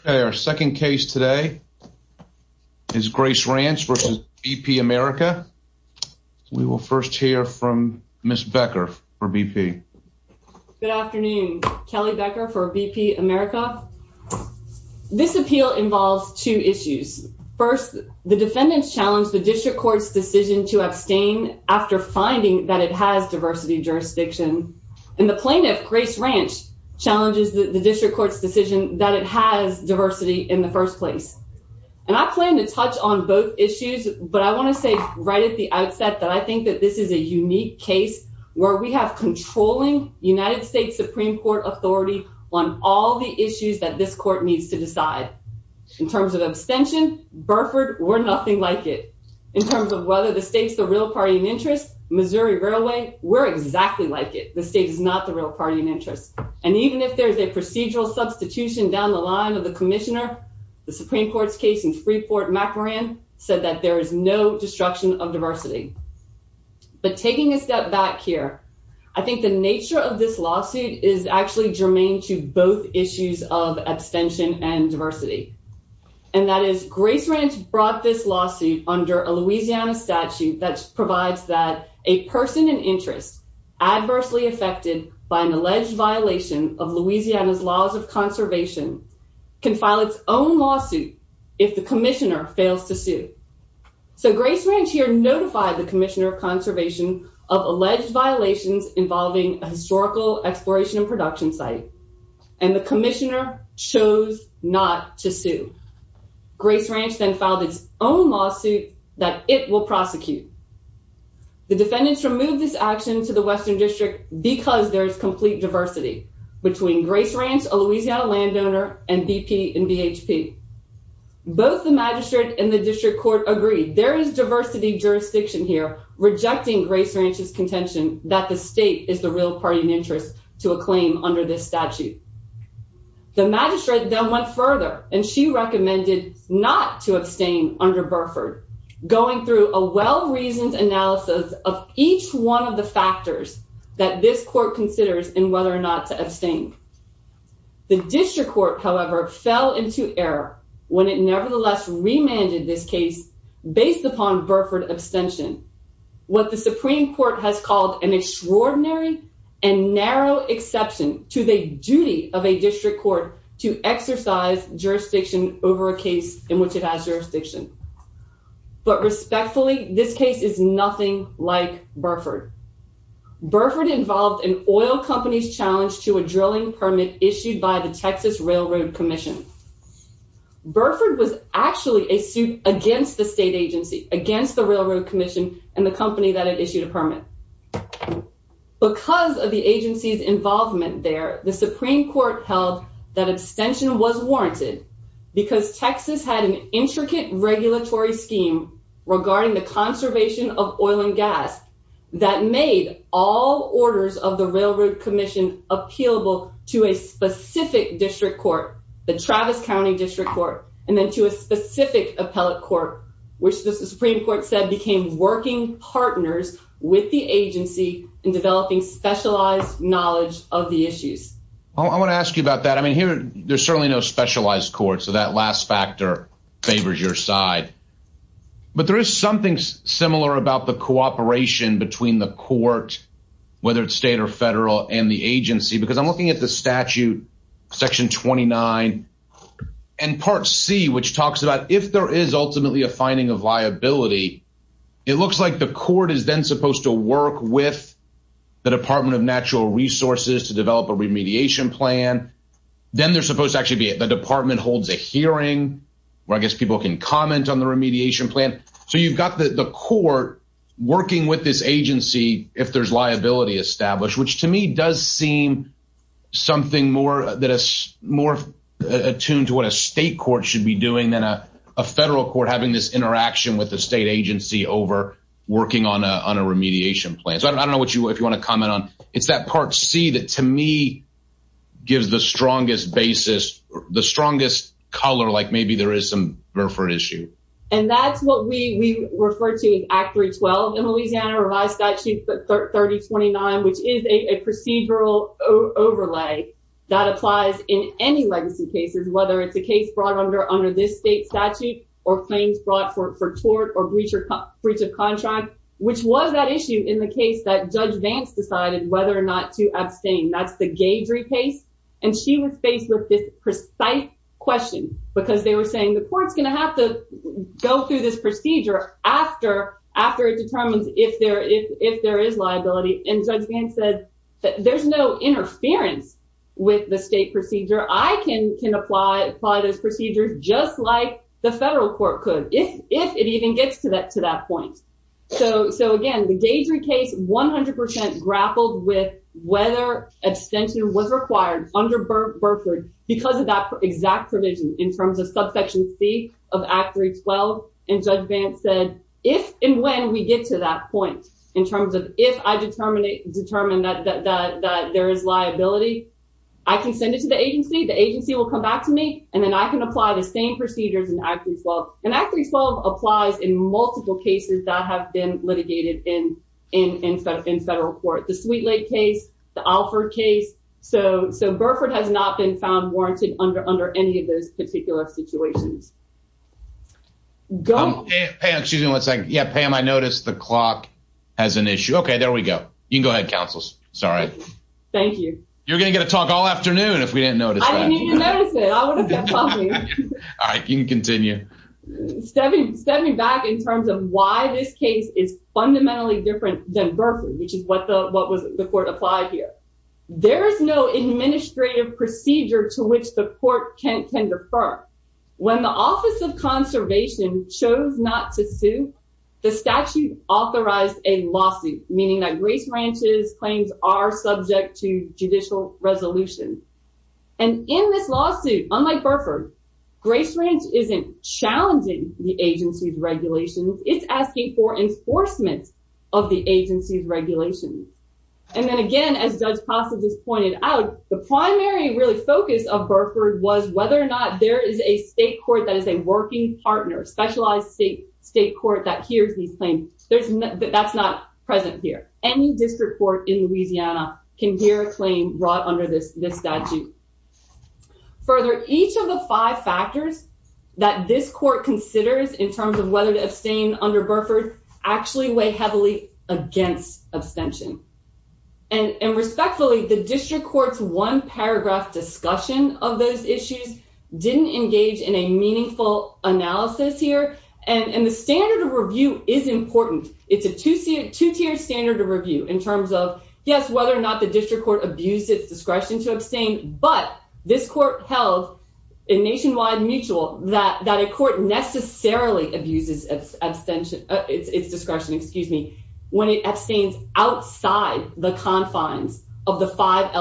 Okay, our second case today is Grace Ranch versus BP America. We will first hear from Ms. Becker for BP. Good afternoon, Kelly Becker for BP America. This appeal involves two issues. First, the defendants challenged the district court's decision to abstain after finding that it has diversity jurisdiction. And the plaintiff, Grace Ranch, challenges the district court's that it has diversity in the first place. And I plan to touch on both issues. But I want to say right at the outset that I think that this is a unique case, where we have controlling United States Supreme Court authority on all the issues that this court needs to decide. In terms of abstention, Burford, we're nothing like it. In terms of whether the state's the real party in interest, Missouri Railway, we're exactly like it, the state is not the real party in interest. And even if there's a procedural substitution down the line of the commissioner, the Supreme Court's case in Freeport-McMoran said that there is no destruction of diversity. But taking a step back here, I think the nature of this lawsuit is actually germane to both issues of abstention and diversity. And that is Grace Ranch brought this lawsuit under a Louisiana statute that provides that a person in interest adversely affected by an alleged violation of Louisiana's laws of conservation can file its own lawsuit if the commissioner fails to sue. So Grace Ranch here notified the commissioner of conservation of alleged violations involving a historical exploration and production site. And the commissioner chose not to sue. Grace Ranch then filed its own lawsuit that it will prosecute. The defendants removed this action to the Western District because there is complete diversity between Grace Ranch, a Louisiana landowner, and BP and BHP. Both the magistrate and the district court agreed there is diversity jurisdiction here, rejecting Grace Ranch's contention that the state is the real party in interest to a claim under this statute. The magistrate then went further and she recommended not to abstain under Burford, going through a well-reasoned analysis of each one of the factors that this court considers in whether or not to abstain. The district court, however, fell into error when it nevertheless remanded this case based upon Burford abstention, what the Supreme Court has called an extraordinary and narrow exception to the duty of a district court to exercise jurisdiction over a case in which it has jurisdiction. But respectfully, this case is nothing like Burford. Burford involved an oil company's challenge to a drilling permit issued by the Texas Railroad Commission. Burford was actually a suit against the state agency, against the Railroad Commission and the company that had issued a permit. Because of the agency's involvement there, the Supreme Court held that abstention was warranted because Texas had an intricate regulatory scheme regarding the conservation of oil and gas that made all orders of the Railroad Commission appealable to a specific district court, the Travis County District Court, and then to a partners with the agency in developing specialized knowledge of the issues. I want to ask you about that. I mean, here, there's certainly no specialized court, so that last factor favors your side. But there is something similar about the cooperation between the court, whether it's state or federal, and the agency. Because I'm looking at the statute, Section 29, and Part C, which talks about if there is ultimately a finding of liability, it looks like the court is then supposed to work with the Department of Natural Resources to develop a remediation plan. Then they're supposed to actually be at the department holds a hearing, where I guess people can comment on the remediation plan. So you've got the court working with this agency if there's liability established, which to me does seem something more attuned to what a state court should be doing than a federal court having this interaction with state agency over working on a remediation plan. So I don't know if you want to comment on, it's that Part C that to me gives the strongest basis, the strongest color, like maybe there is some room for issue. And that's what we refer to as Act 312 in Louisiana, Revised Statute 3029, which is a procedural overlay that applies in any legacy cases, whether it's a case brought under this state statute, or claims brought for tort or breach of contract, which was that issue in the case that Judge Vance decided whether or not to abstain. That's the Gadrey case. And she was faced with this precise question, because they were saying the court's going to have to go through this procedure after it determines if there is liability. And Judge Vance said, if and when we get to that point, in terms of if I determine that there is liability, I can send it to the agency, the agency will come back to me, and then I can apply the same procedures in Act 312. And Act 312 applies in multiple cases that have been litigated in federal court, the Sweet Lake case, the Alford case. So Burford has not been found warranted under any of those particular situations. Go. Pam, excuse me one second. Yeah, Pam, I noticed the clock has an issue. Okay, there we go. You can go ahead, counsels. Sorry. Thank you. You're going to get a talk all afternoon if we didn't notice. All right, you can continue. Stepping back in terms of why this case is fundamentally different than Burford, which is what the court applied here. There is no administrative procedure to which the court can defer. When the Office of Conservation chose not to sue, the statute authorized a lawsuit, meaning that Grace Ranch's claims are subject to judicial resolution. And in this lawsuit, unlike Burford, Grace Ranch isn't challenging the agency's regulations, it's asking for enforcement of the agency's regulations. And then again, as Judge Passas pointed out, the primary really focus of Burford was whether or not there is a state court that is a working partner, a specialized state court that hears these claims. That's not present here. Any district court in Louisiana can hear a claim brought under this statute. Further, each of the five factors that this court considers in terms of whether to abstain under Burford actually weigh heavily against abstention. And respectfully, the district court's one-paragraph discussion of those issues didn't engage in a meaningful analysis here. And the standard of review is important. It's a two-tiered standard of review in terms of, yes, whether or not the district court abused its discretion to abstain, but this court held in nationwide mutual that a court necessarily abuses its discretion when it abstains outside the confines of the five I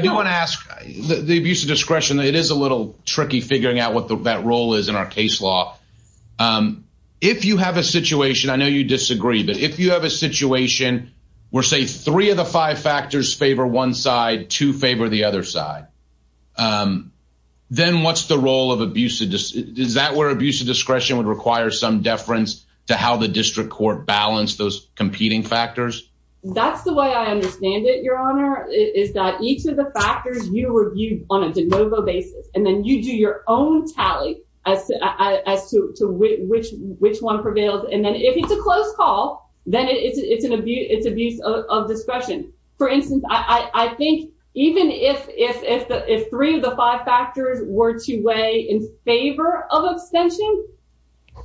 do want to ask, the abuse of discretion, it is a little tricky figuring out what that role is in our case law. If you have a situation, I know you disagree, but if you have a situation where say three of the five factors favor one side, two favor the other side, then what's the role of abuse? Is that where abuse of discretion would require some deference to how the district court balanced those competing factors? That's the way I understand it, is that each of the factors you reviewed on a de novo basis, and then you do your own tally as to which one prevails. And then if it's a close call, then it's abuse of discretion. For instance, I think even if three of the five factors were to weigh in favor of abstention,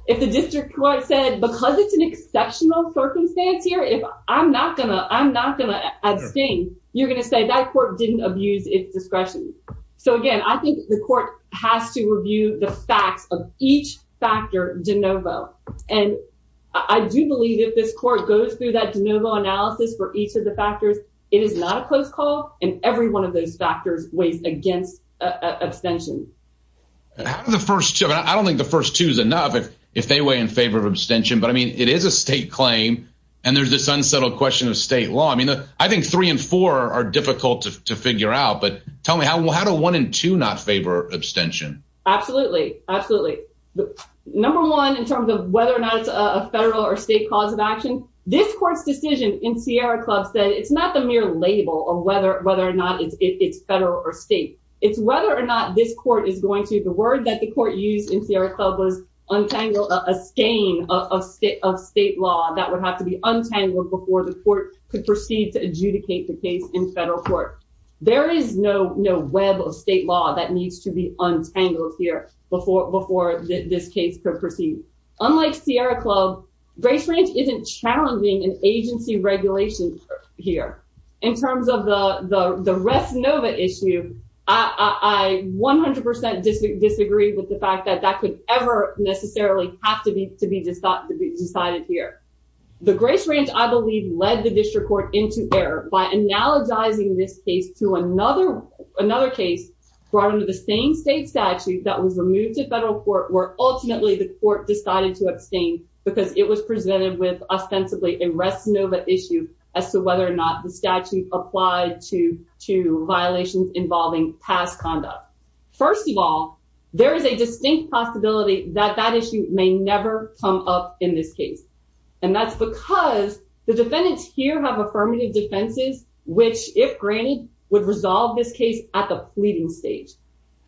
if the district court said, because it's an exceptional circumstance here, I'm not going to abstain, you're going to say that court didn't abuse its discretion. So again, I think the court has to review the facts of each factor de novo. And I do believe if this court goes through that de novo analysis for each of the factors, it is not a close call, and every one of those factors weighs against abstention. I don't think the first two is enough if they weigh in favor of abstention. But I mean, it is a state claim. And there's this unsettled question of state law. I mean, I think three and four are difficult to figure out. But tell me, how do one and two not favor abstention? Absolutely, absolutely. Number one, in terms of whether or not it's a federal or state cause of action, this court's decision in Sierra Club said it's not the mere label of whether or not it's federal or state. It's whether or not this court is going to, the word that the court used in Sierra Club was untangle, a skein of state law that would have to be untangled before the court could proceed to adjudicate the case in federal court. There is no web of state law that needs to be untangled here before this case could proceed. Unlike Sierra Club, Grace Ranch isn't challenging an agency regulation here. In terms of the Rest Nova issue, I 100% disagree with the fact that that could ever necessarily have to be decided here. The Grace Ranch, I believe, led the district court into error by analogizing this case to another case brought under the same state statute that was removed to federal court where ultimately the court decided to abstain because it was presented with ostensibly a Rest Nova issue as to whether or not the statute applied to violations involving past conduct. First of all, there is a distinct possibility that that issue may never come up in this case. And that's because the defendants here have affirmative defenses, which, if granted, would resolve this case at the pleading stage.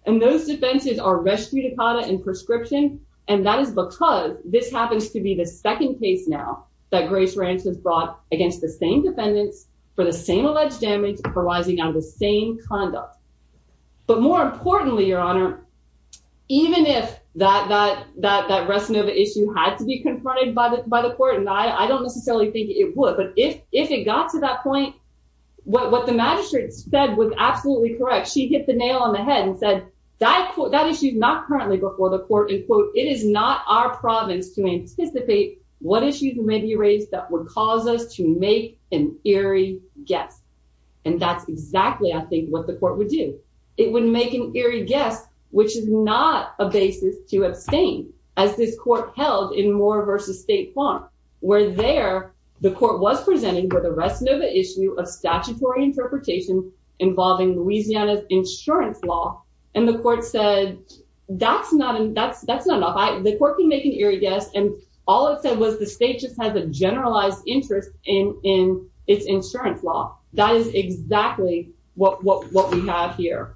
And those defenses are res judicata and prescription, and that is because this happens to be the second case now that Grace Ranch has brought against the same defendants for the same alleged damage arising out of the same conduct. But more importantly, Your Honor, even if that Rest Nova issue had to be confronted by the court, and I don't necessarily think it would, but if it got to that point, what the magistrate said was absolutely correct. She hit the nail on the head and said, that issue is not currently before the court, and, quote, it is not our province to anticipate what issues may be raised that would cause us to make an eerie guess. And that's exactly, I think, what the court would do. It would make an eerie guess, which is not a basis to abstain, as this court held in Moore v. State Farm, where there, the court was presented with a Rest Nova issue of statutory interpretation involving Louisiana's insurance law, and the court said, that's not enough. The state just has a generalized interest in its insurance law. That is exactly what we have here.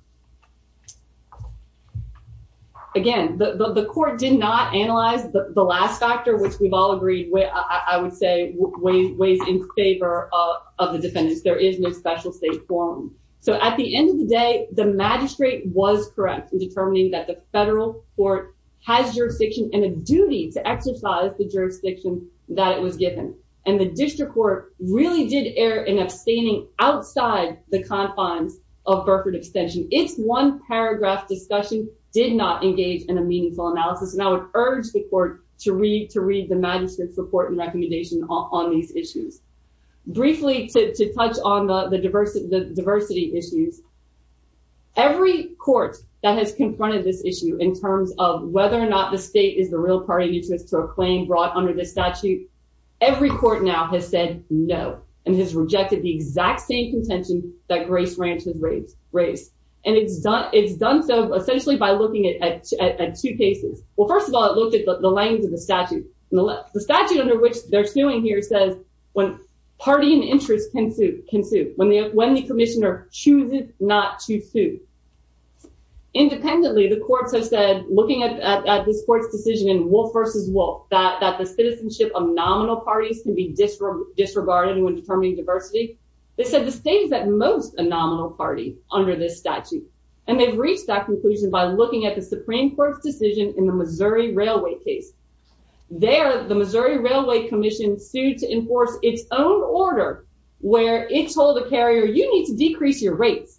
Again, the court did not analyze the last factor, which we've all agreed, I would say, weighs in favor of the defendants. There is no special state forum. So at the end of the day, the magistrate was correct in determining that the federal court has jurisdiction and a duty to that it was given. And the district court really did err in abstaining outside the confines of Burford Extension. Its one-paragraph discussion did not engage in a meaningful analysis, and I would urge the court to read the magistrate's report and recommendation on these issues. Briefly, to touch on the diversity issues, every court that has confronted this issue, in terms of whether or not the state is the real party to a claim brought under this statute, every court now has said, no, and has rejected the exact same contention that Grace Ranch has raised. And it's done so, essentially, by looking at two cases. Well, first of all, it looked at the language of the statute. The statute under which they're suing here says, when party and interest can sue, when the commissioner chooses not to sue. Independently, the courts have said, looking at this court's decision in Wolfe v. Wolfe, that the citizenship of nominal parties can be disregarded when determining diversity, they said the state is at most a nominal party under this statute. And they've reached that conclusion by looking at the Supreme Court's decision in the Missouri Railway case. There, the Missouri Railway Commission sued to enforce its own order, where it told the carrier, you need to decrease your rates.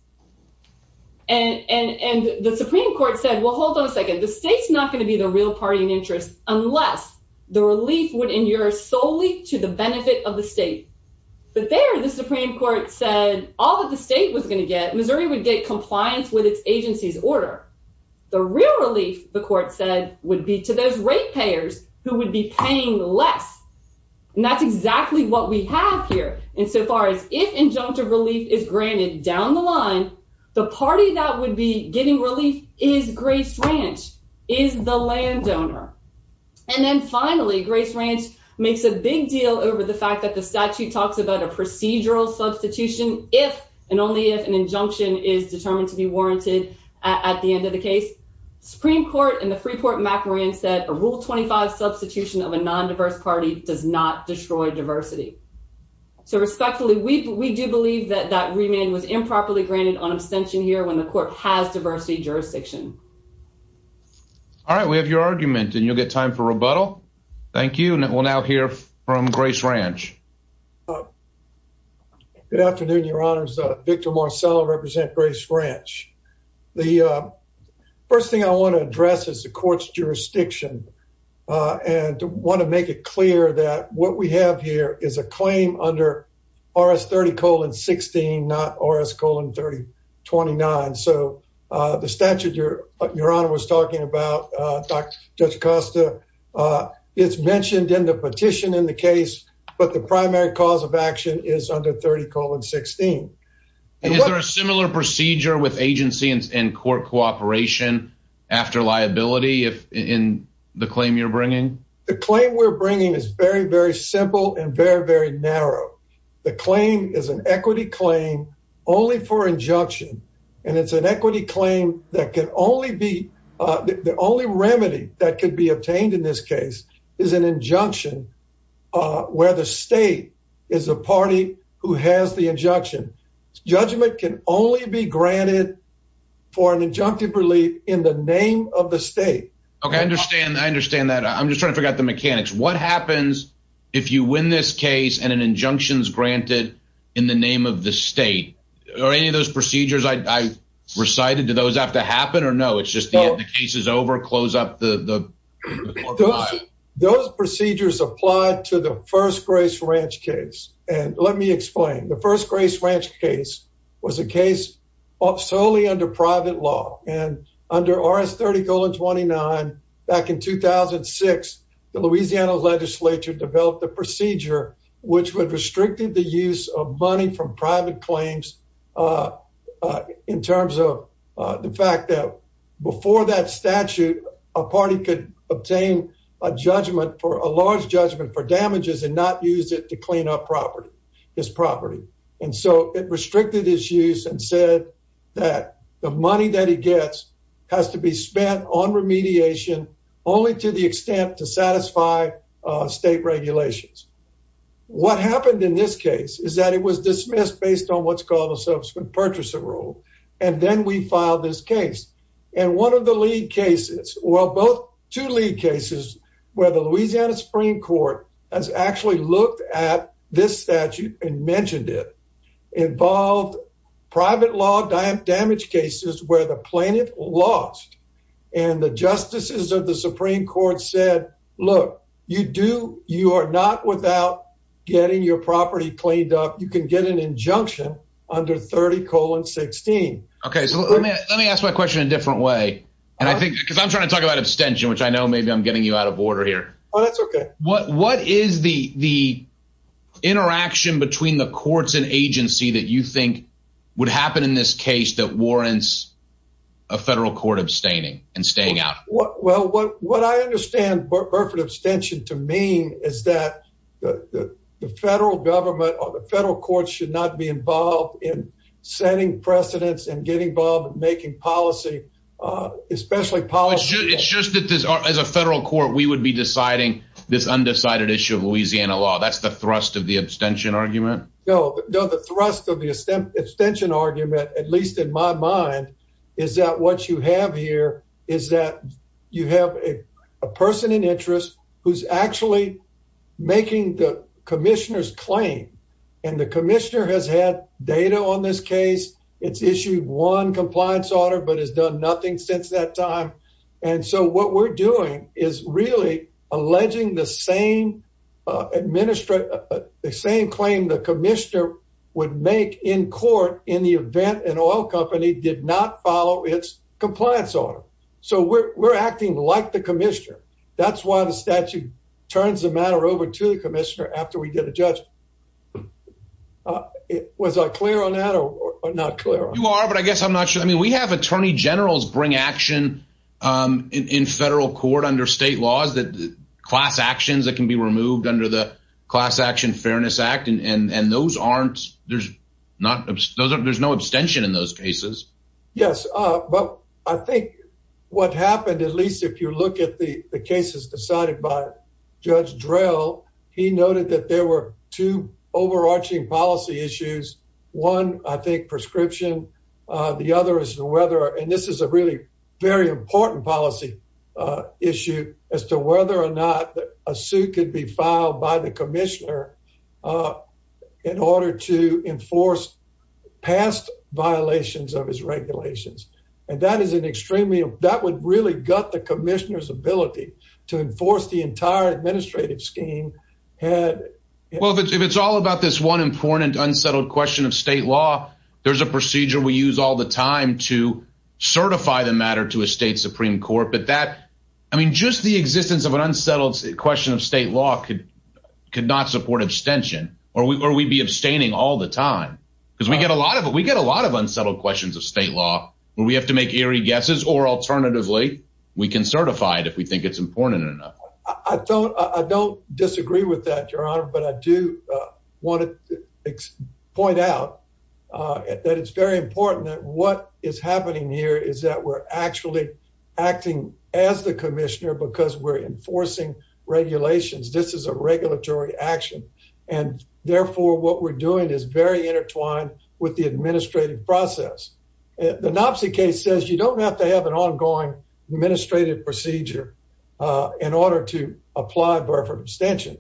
And the Supreme Court said, well, hold on a second, the state's not going to be the real party and interest, unless the relief would injure solely to the benefit of the state. But there, the Supreme Court said, all that the state was going to get, Missouri would get compliance with its agency's order. The real relief, the court said, would be to those ratepayers who would be paying less. And that's exactly what we have here. And so far as if injunctive relief is granted down the line, the party that would be getting relief is Grace Ranch, is the landowner. And then finally, Grace Ranch makes a big deal over the fact that the statute talks about a procedural substitution if and only if an injunction is determined to be warranted. At the end of the case, Supreme Court and the Freeport-MacMahon said a Rule 25 substitution of a non-diverse party does not destroy diversity. So respectfully, we do believe that that remand was improperly granted on abstention here when the court has diversity jurisdiction. All right, we have your argument and you'll get time for rebuttal. Thank you. And we'll now hear from Grace Ranch. Good afternoon, Your Honors. Victor Marcello represent Grace Ranch. The first thing I want to address is the court's jurisdiction and want to make it clear that what we have here is a claim under RS 30 colon 16, not RS colon 30 29. So the statute Your Honor was talking about, Judge Acosta, it's mentioned in the petition in the case, but the primary cause action is under 30 colon 16. Is there a similar procedure with agency and court cooperation after liability in the claim you're bringing? The claim we're bringing is very, very simple and very, very narrow. The claim is an equity claim only for injunction. And it's an equity claim that can only be the only remedy that could be obtained in this case is an injunction where the state is a party who has the injunction. Judgment can only be granted for an injunctive relief in the name of the state. Okay, I understand. I understand that. I'm just trying to figure out the mechanics. What happens if you win this case and an injunction is granted in the name of the state or any of those procedures I recited? Do those have to happen or no? It's just the case is over. Close up the those procedures applied to the First Grace Ranch case. And let me explain. The First Grace Ranch case was a case solely under private law and under RS 30 colon 29. Back in 2006, the Louisiana Legislature developed the procedure which would restricted the use of money from private claims in terms of the fact that before that statute, a party could obtain a judgment for a large judgment for damages and not use it to clean up property, his property. And so it restricted his use and said that the money that he gets has to be spent on remediation only to the extent to what happened in this case is that it was dismissed based on what's called a subsequent purchaser rule. And then we filed this case and one of the lead cases. Well, both two lead cases where the Louisiana Supreme Court has actually looked at this statute and mentioned it involved private law damage cases where the plaintiff lost and the justices of the Supreme Court said, look, you do you are not without getting your property cleaned up. You can get an injunction under 30 colon 16. Okay, so let me ask my question a different way. And I think because I'm trying to talk about abstention, which I know maybe I'm getting you out of order here. Oh, that's okay. What what is the the interaction between the courts and agency that you think would happen in this case that warrants a federal court abstaining and staying out? Well, what what I understand, Burford abstention to mean is that the federal government or the federal courts should not be involved in setting precedents and getting involved in making policy, especially policy. It's just that this is a federal court. We would be deciding this undecided issue of Louisiana law. That's the thrust of the abstention argument. No, no, the thrust of the extension argument, at least in my mind, is that what you have here is that you have a person in interest who's actually making the commissioner's claim. And the commissioner has had data on this case. It's issued one compliance order, but has done nothing since that time. And so what we're doing is really alleging the same administrator, the same claim the commissioner would make in court in the event an oil company did not follow its compliance order. So we're acting like the commissioner. That's why the statute turns the matter over to the commissioner after we get a judge. Was I clear on that or not clear? You are, but I guess I'm not sure. I mean, we have attorney generals bring action in federal court under state laws that class actions that can be removed under the Class Act. There's no abstention in those cases. Yes, but I think what happened, at least if you look at the cases decided by Judge Drell, he noted that there were two overarching policy issues. One, I think, prescription. The other is whether, and this is a really very important policy issue, as to whether or not a suit could be filed by the commissioner in order to enforce past violations of his regulations. And that would really gut the commissioner's ability to enforce the entire administrative scheme. Well, if it's all about this one important unsettled question of state law, there's a procedure we use all the time to certify the existence of an unsettled question of state law could not support abstention or we'd be abstaining all the time because we get a lot of unsettled questions of state law where we have to make eerie guesses or alternatively we can certify it if we think it's important enough. I don't disagree with that, Your Honor, but I do want to point out that it's very important that what enforcing regulations. This is a regulatory action and therefore what we're doing is very intertwined with the administrative process. The Knopsey case says you don't have to have an ongoing administrative procedure in order to apply for abstention.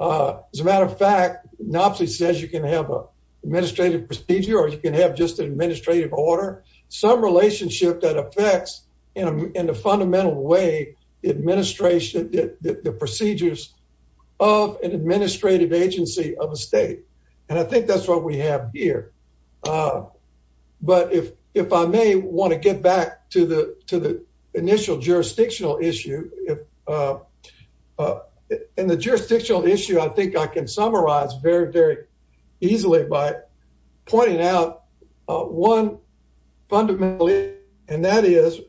As a matter of fact, Knopsey says you can have an administrative procedure or you can have just an administrative order, some relationship that affects in a fundamental way the administration, the procedures of an administrative agency of a state. And I think that's what we have here. But if I may want to get back to the initial jurisdictional issue, in the jurisdictional issue, I think I can summarize very, very easily by pointing out one fundamentally, and that is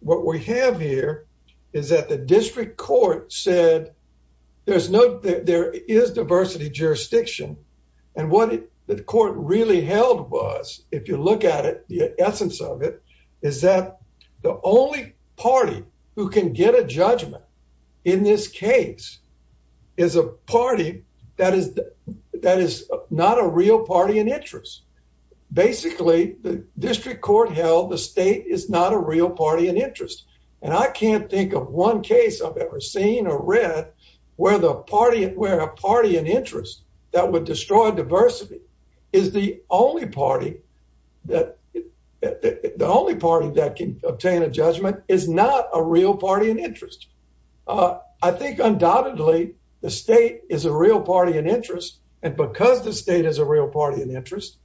what we have here is that the district court said there is diversity jurisdiction. And what the court really held was, if you look at it, the essence of it is that the only party who can get a judgment in this case is a party that is not a real party in interest. Basically, the district court held the state is not a real party in interest. And I can't think of one case I've ever seen or read where a party in interest that would destroy diversity is the only party that can obtain a judgment is not a real party in interest. I think undoubtedly the state is a real party in interest. And because the state is a real party in interest,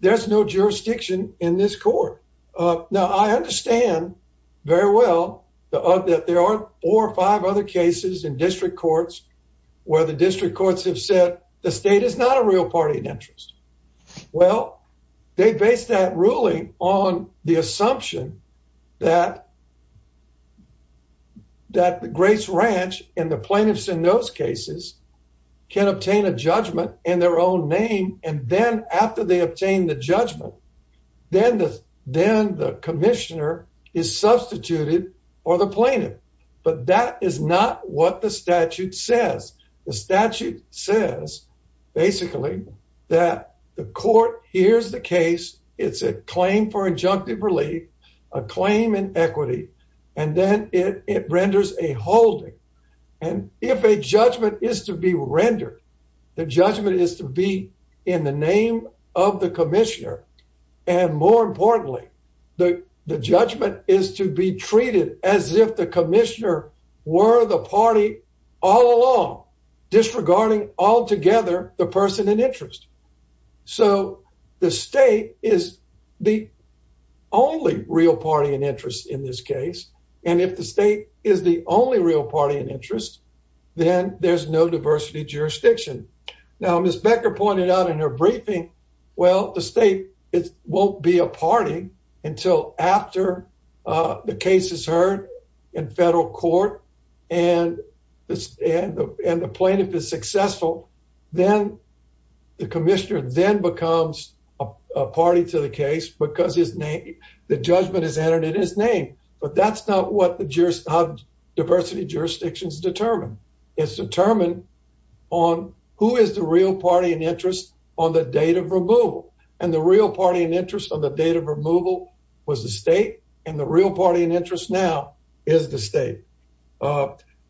there's no jurisdiction in this court. Now, I understand very well that there are four or five other cases in district courts where the district courts have said the state is not a real party in interest. Well, they based that ruling on the assumption that the Grace Ranch and the plaintiffs in those cases can obtain a judgment in their own name. And then after they obtain the judgment, then the commissioner is substituted or the plaintiff. But that is not what the statute says. The statute says basically that the court hears the case. It's a claim for injunctive relief, a claim in equity, and then it renders a holding. And if a judgment is to be rendered, the judgment is to be in the name of the commissioner. And more importantly, the judgment is to be treated as if the commissioner were the party all along, disregarding altogether the person in interest. So the state is the only real party in interest in this case. And if the state is the only real party in interest, then there's no diversity jurisdiction. Now, Ms. Becker pointed out in her briefing, well, the state won't be a party until after the case is heard in federal court and the plaintiff is successful. Then the commissioner then becomes a party to the case because the judgment is entered in his name. But that's not what the diversity jurisdictions determine. It's determined on who is the real party in interest on the date of removal. And the real party in interest on the date of removal was the state. And the real party in interest now is the state.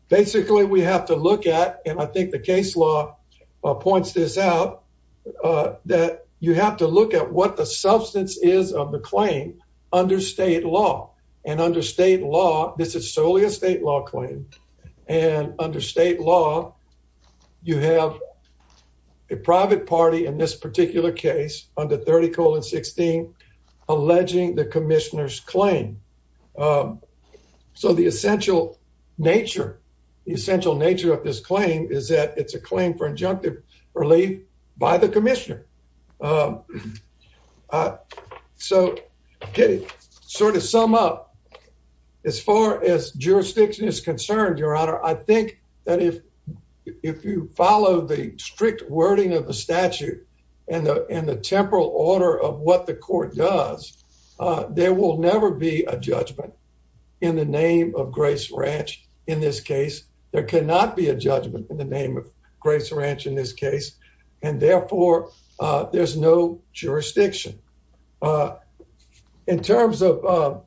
Basically, we have to look at, and I think the case law points this out, that you have to look at what the substance is of the claim under state law. And under state law, this is solely a state law claim. And under state law, you have a private party in this particular case under 30 colon 16 alleging the commissioner's claim. Um, so the essential nature, the essential nature of this claim is that it's a claim for injunctive relief by the commissioner. Um, uh, so get it sort of sum up. As far as jurisdiction is concerned, Your Honor, I think that if if you follow the strict wording of the statute and the temporal order of what the court does, there will never be a judgment in the name of Grace Ranch. In this case, there cannot be a judgment in the name of Grace Ranch in this case, and therefore there's no jurisdiction. Uh, in terms of,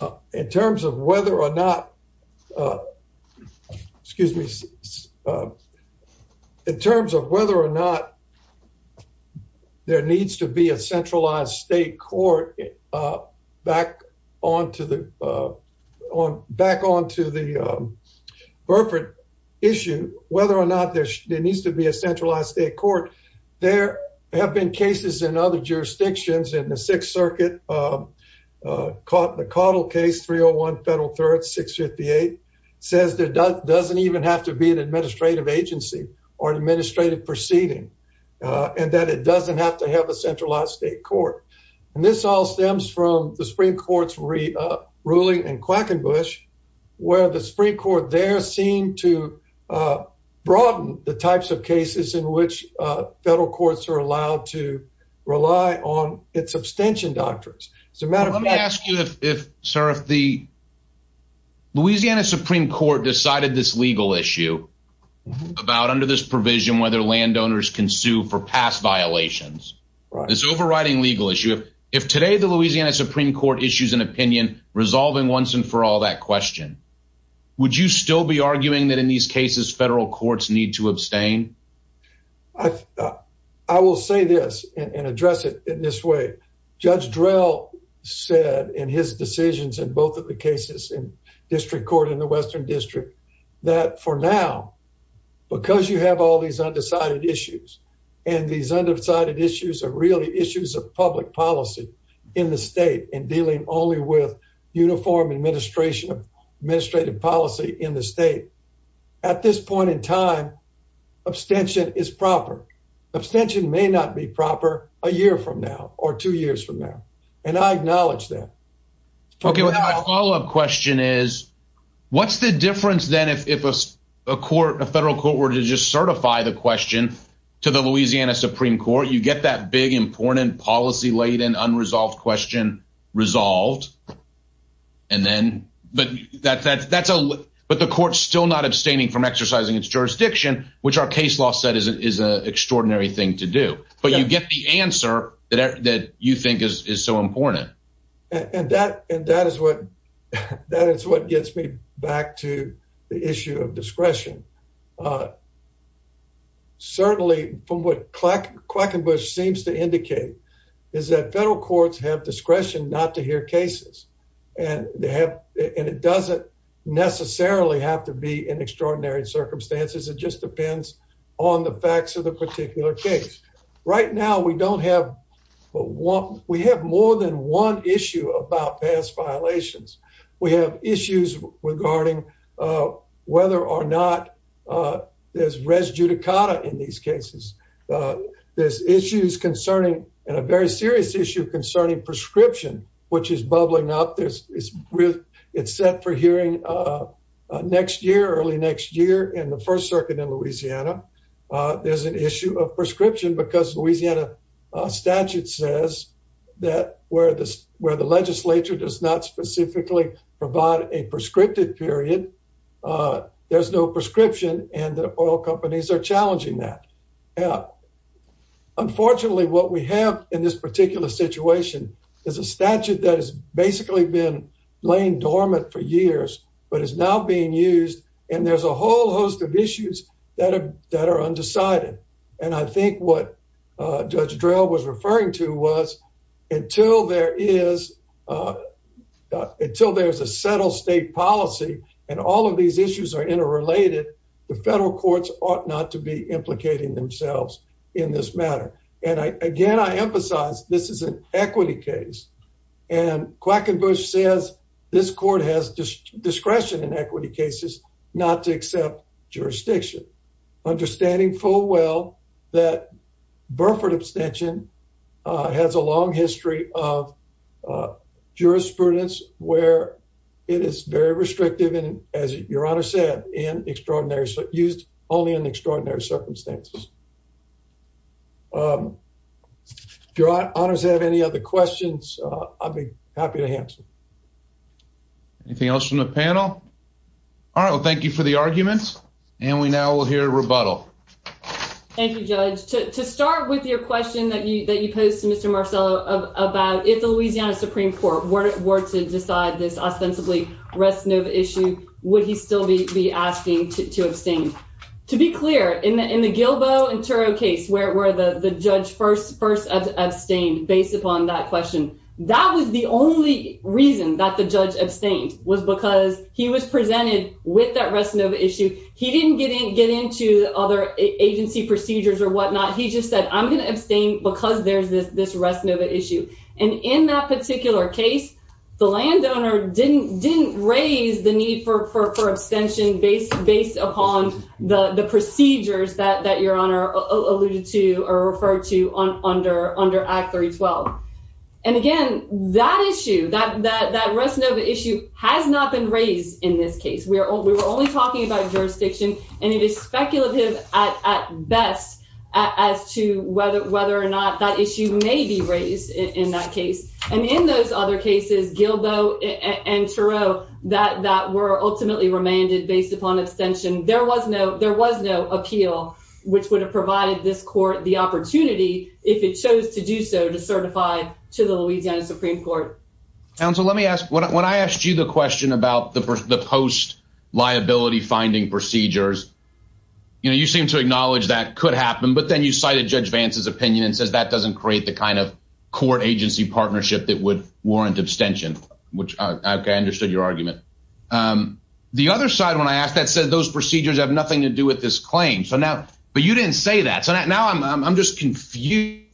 uh, in terms of whether or not, uh, excuse me, uh, in terms of whether or not there needs to be a centralized state court up back onto the, uh, on back onto the, um, Burford issue, whether or not there needs to be a centralized state court. There have been cases in other jurisdictions in the Sixth Circuit caught the coddle case. 301 Federal Threats 6 58 says there doesn't even have to be an administrative agency or administrative proceeding on that. It doesn't have to stem from the Supreme Court's re ruling and Quackenbush, where the Supreme Court there seem to, uh, broaden the types of cases in which federal courts are allowed to rely on its abstention doctrines. It's a matter. Let me ask you if, sir, if the Louisiana Supreme Court decided this legal issue about under this provision, whether landowners can sue for past violations, this overriding legal issue. If today the Louisiana Supreme Court issues an opinion resolving once and for all that question, would you still be arguing that in these cases federal courts need to abstain? I will say this and address it in this way. Judge Drell said in his decisions in both of the cases in district court in the Western District that for now, because you have all these undecided issues and these undecided issues are really issues of public policy in the state and dealing only with uniform administration of administrative policy in the state. At this point in time, abstention is proper. Abstention may not be proper a year from now or two years from now, and I acknowledge that. Okay, my follow-up question is what's the difference then if a court, a federal court, were to just certify the question to the Louisiana Supreme Court? You get that big, important, policy-laden, unresolved question resolved and then, but that's a, but the court's still not abstaining from exercising its jurisdiction, which our case law said is an extraordinary thing to do, but you get the answer that you think is so important. And that, and that is what, that is what gets me back to the issue of discretion. Certainly from what Quackenbush seems to indicate is that federal courts have discretion not to hear cases and they have, and it doesn't necessarily have to be in extraordinary circumstances. It just depends on the facts of the particular case. Right now, we don't have, we have more than one issue about past violations. We have issues regarding whether or not there's res judicata in these cases. There's issues concerning, and a very serious issue concerning prescription, which is bubbling up. There's, it's set for hearing next year, early next year in the First Circuit in Louisiana. There's an issue of prescription because Louisiana statute says that where the, where the legislature does not specifically provide a prescriptive period, there's no prescription and the oil companies are challenging that. Unfortunately, what we have in this particular situation is a statute that has basically been laying dormant for years, but is now being used and there's a whole host of issues that are, are undecided. And I think what Judge Drell was referring to was until there is, until there's a settled state policy and all of these issues are interrelated, the federal courts ought not to be implicating themselves in this matter. And I, again, I emphasize this is an equity case and Quackenbush says this court has discretion in equity cases not to accept jurisdiction. Understanding full well that Burford abstention has a long history of jurisprudence where it is very restrictive and as your Honor said, in extraordinary, used only in extraordinary circumstances. If your Honors have any other questions, I'll be happy to answer. Anything else from the panel? All right, well thank you for the arguments. And we now will hear a rebuttal. Thank you, Judge. To start with your question that you, that you posed to Mr. Marcello about if the Louisiana Supreme Court were to decide this ostensibly Rest Nova issue, would he still be asking to abstain? To be clear, in the, in the Gilbo and Turo case where the judge first abstained based upon that question, that was the only reason that the judge abstained was because he was presented with that Rest Nova issue. He didn't get in, get into other agency procedures or whatnot. He just said, I'm going to abstain because there's this, this Rest Nova issue. And in that particular case, the landowner didn't, didn't raise the need for, for, for abstention based, based upon the, the procedures that, that your Honor alluded to or referred to on, under, under Act 312. And again, that issue, that, that, that Rest Nova issue has not been raised in this case. We are, we were only talking about jurisdiction and it is speculative at, at best as to whether, whether or not that issue may be raised in that case. And in those other cases, Gilbo and Turo, that, that were ultimately remanded based upon abstention, there was no, there was no appeal which would have provided this court the opportunity if it chose to do so to certify to the Louisiana Supreme Court. Counsel, let me ask, when I asked you the question about the post liability finding procedures, you know, you seem to acknowledge that could happen, but then you cited Judge Vance's opinion and says that doesn't create the kind of court agency partnership that would warrant abstention, which I understood your argument. The other side, when I asked that said, those procedures have nothing to do with this claim. So now, but you didn't say that. So now I'm, I'm, I'm just confused.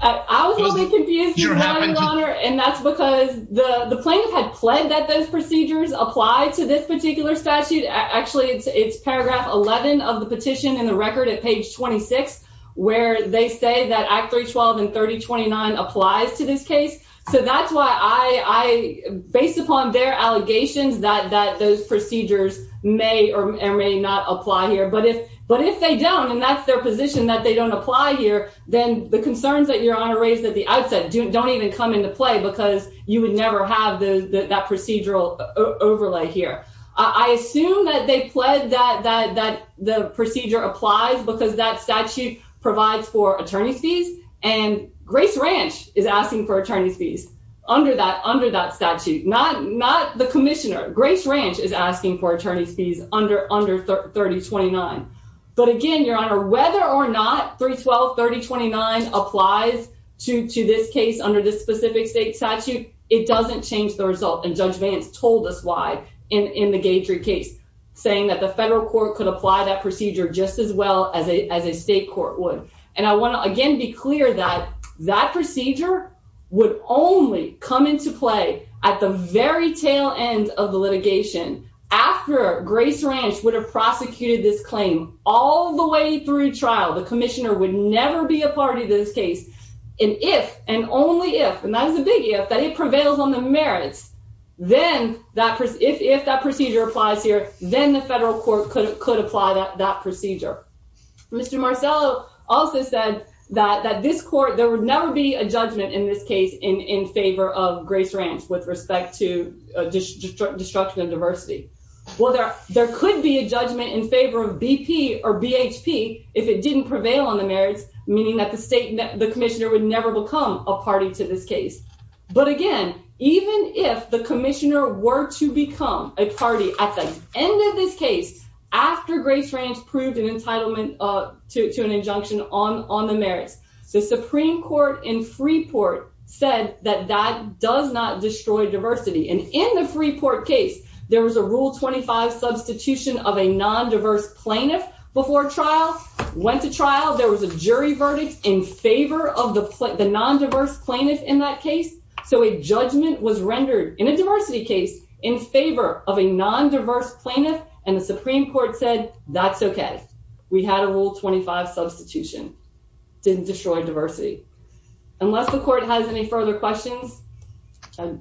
I was only confused and that's because the plaintiff had pled that those procedures apply to this particular statute. Actually it's, it's paragraph 11 of the petition in the record at page 26, where they say that Act 312 and 3029 applies to this case. So that's why I, I, based upon their allegations that, that those procedures may or may not apply here. But if, but if they don't, and that's their position that they don't apply here, then the concerns that your honor raised at the outset don't even come into play because you would never have the, that procedural overlay here. I assume that they pled that, that, that the procedure applies because that statute provides for attorney's fees and Grace Ranch is asking for attorney's fees under that, under that statute, not, not the commissioner. Grace Ranch is asking for attorney's fees under, under 3029. But again, your honor, whether or not 312, 3029 applies to, to this case under this specific state statute, it doesn't change the result. And judge Vance told us why in, in the Gaytree case saying that the federal court could apply that procedure just as well as a, as a state court would. And I want to again, be clear that that procedure would only come into play at the very tail end of the litigation. After Grace Ranch would have prosecuted this claim all the way through trial, the commissioner would never be a party to this case. And if, and only if, and that is a big if, that it prevails on the merits, then that, if, if that procedure applies here, then the federal court could, could apply that, that procedure. Mr. Marcello also said that, that this court, there would never be a judgment in this case in, in favor of Grace Ranch with respect to destruction of diversity. Well, there, there could be a judgment in favor of BP or BHP if it didn't prevail on the merits, meaning that the state, the commissioner would never become a party to this case. But again, even if the commissioner were to become a party at the end of this case, after Grace Ranch proved an entitlement to an injunction on, on the merits, the Supreme Court in Freeport said that that does not destroy diversity. And in the Freeport case, there was a rule 25 substitution of a non-diverse plaintiff before trial, went to trial. There was a jury verdict in favor of the non-diverse plaintiff in that case. So a judgment was rendered in a diversity case in favor of a non-diverse plaintiff. And the Supreme Court said, that's okay. We had a rule 25 substitution. Didn't destroy diversity. Unless the court has any further questions, I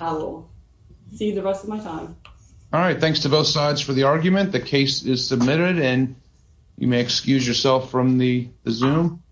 will see the rest of my time. All right. Thanks to both sides for the argument. The case is submitted and you may excuse yourself from the Zoom.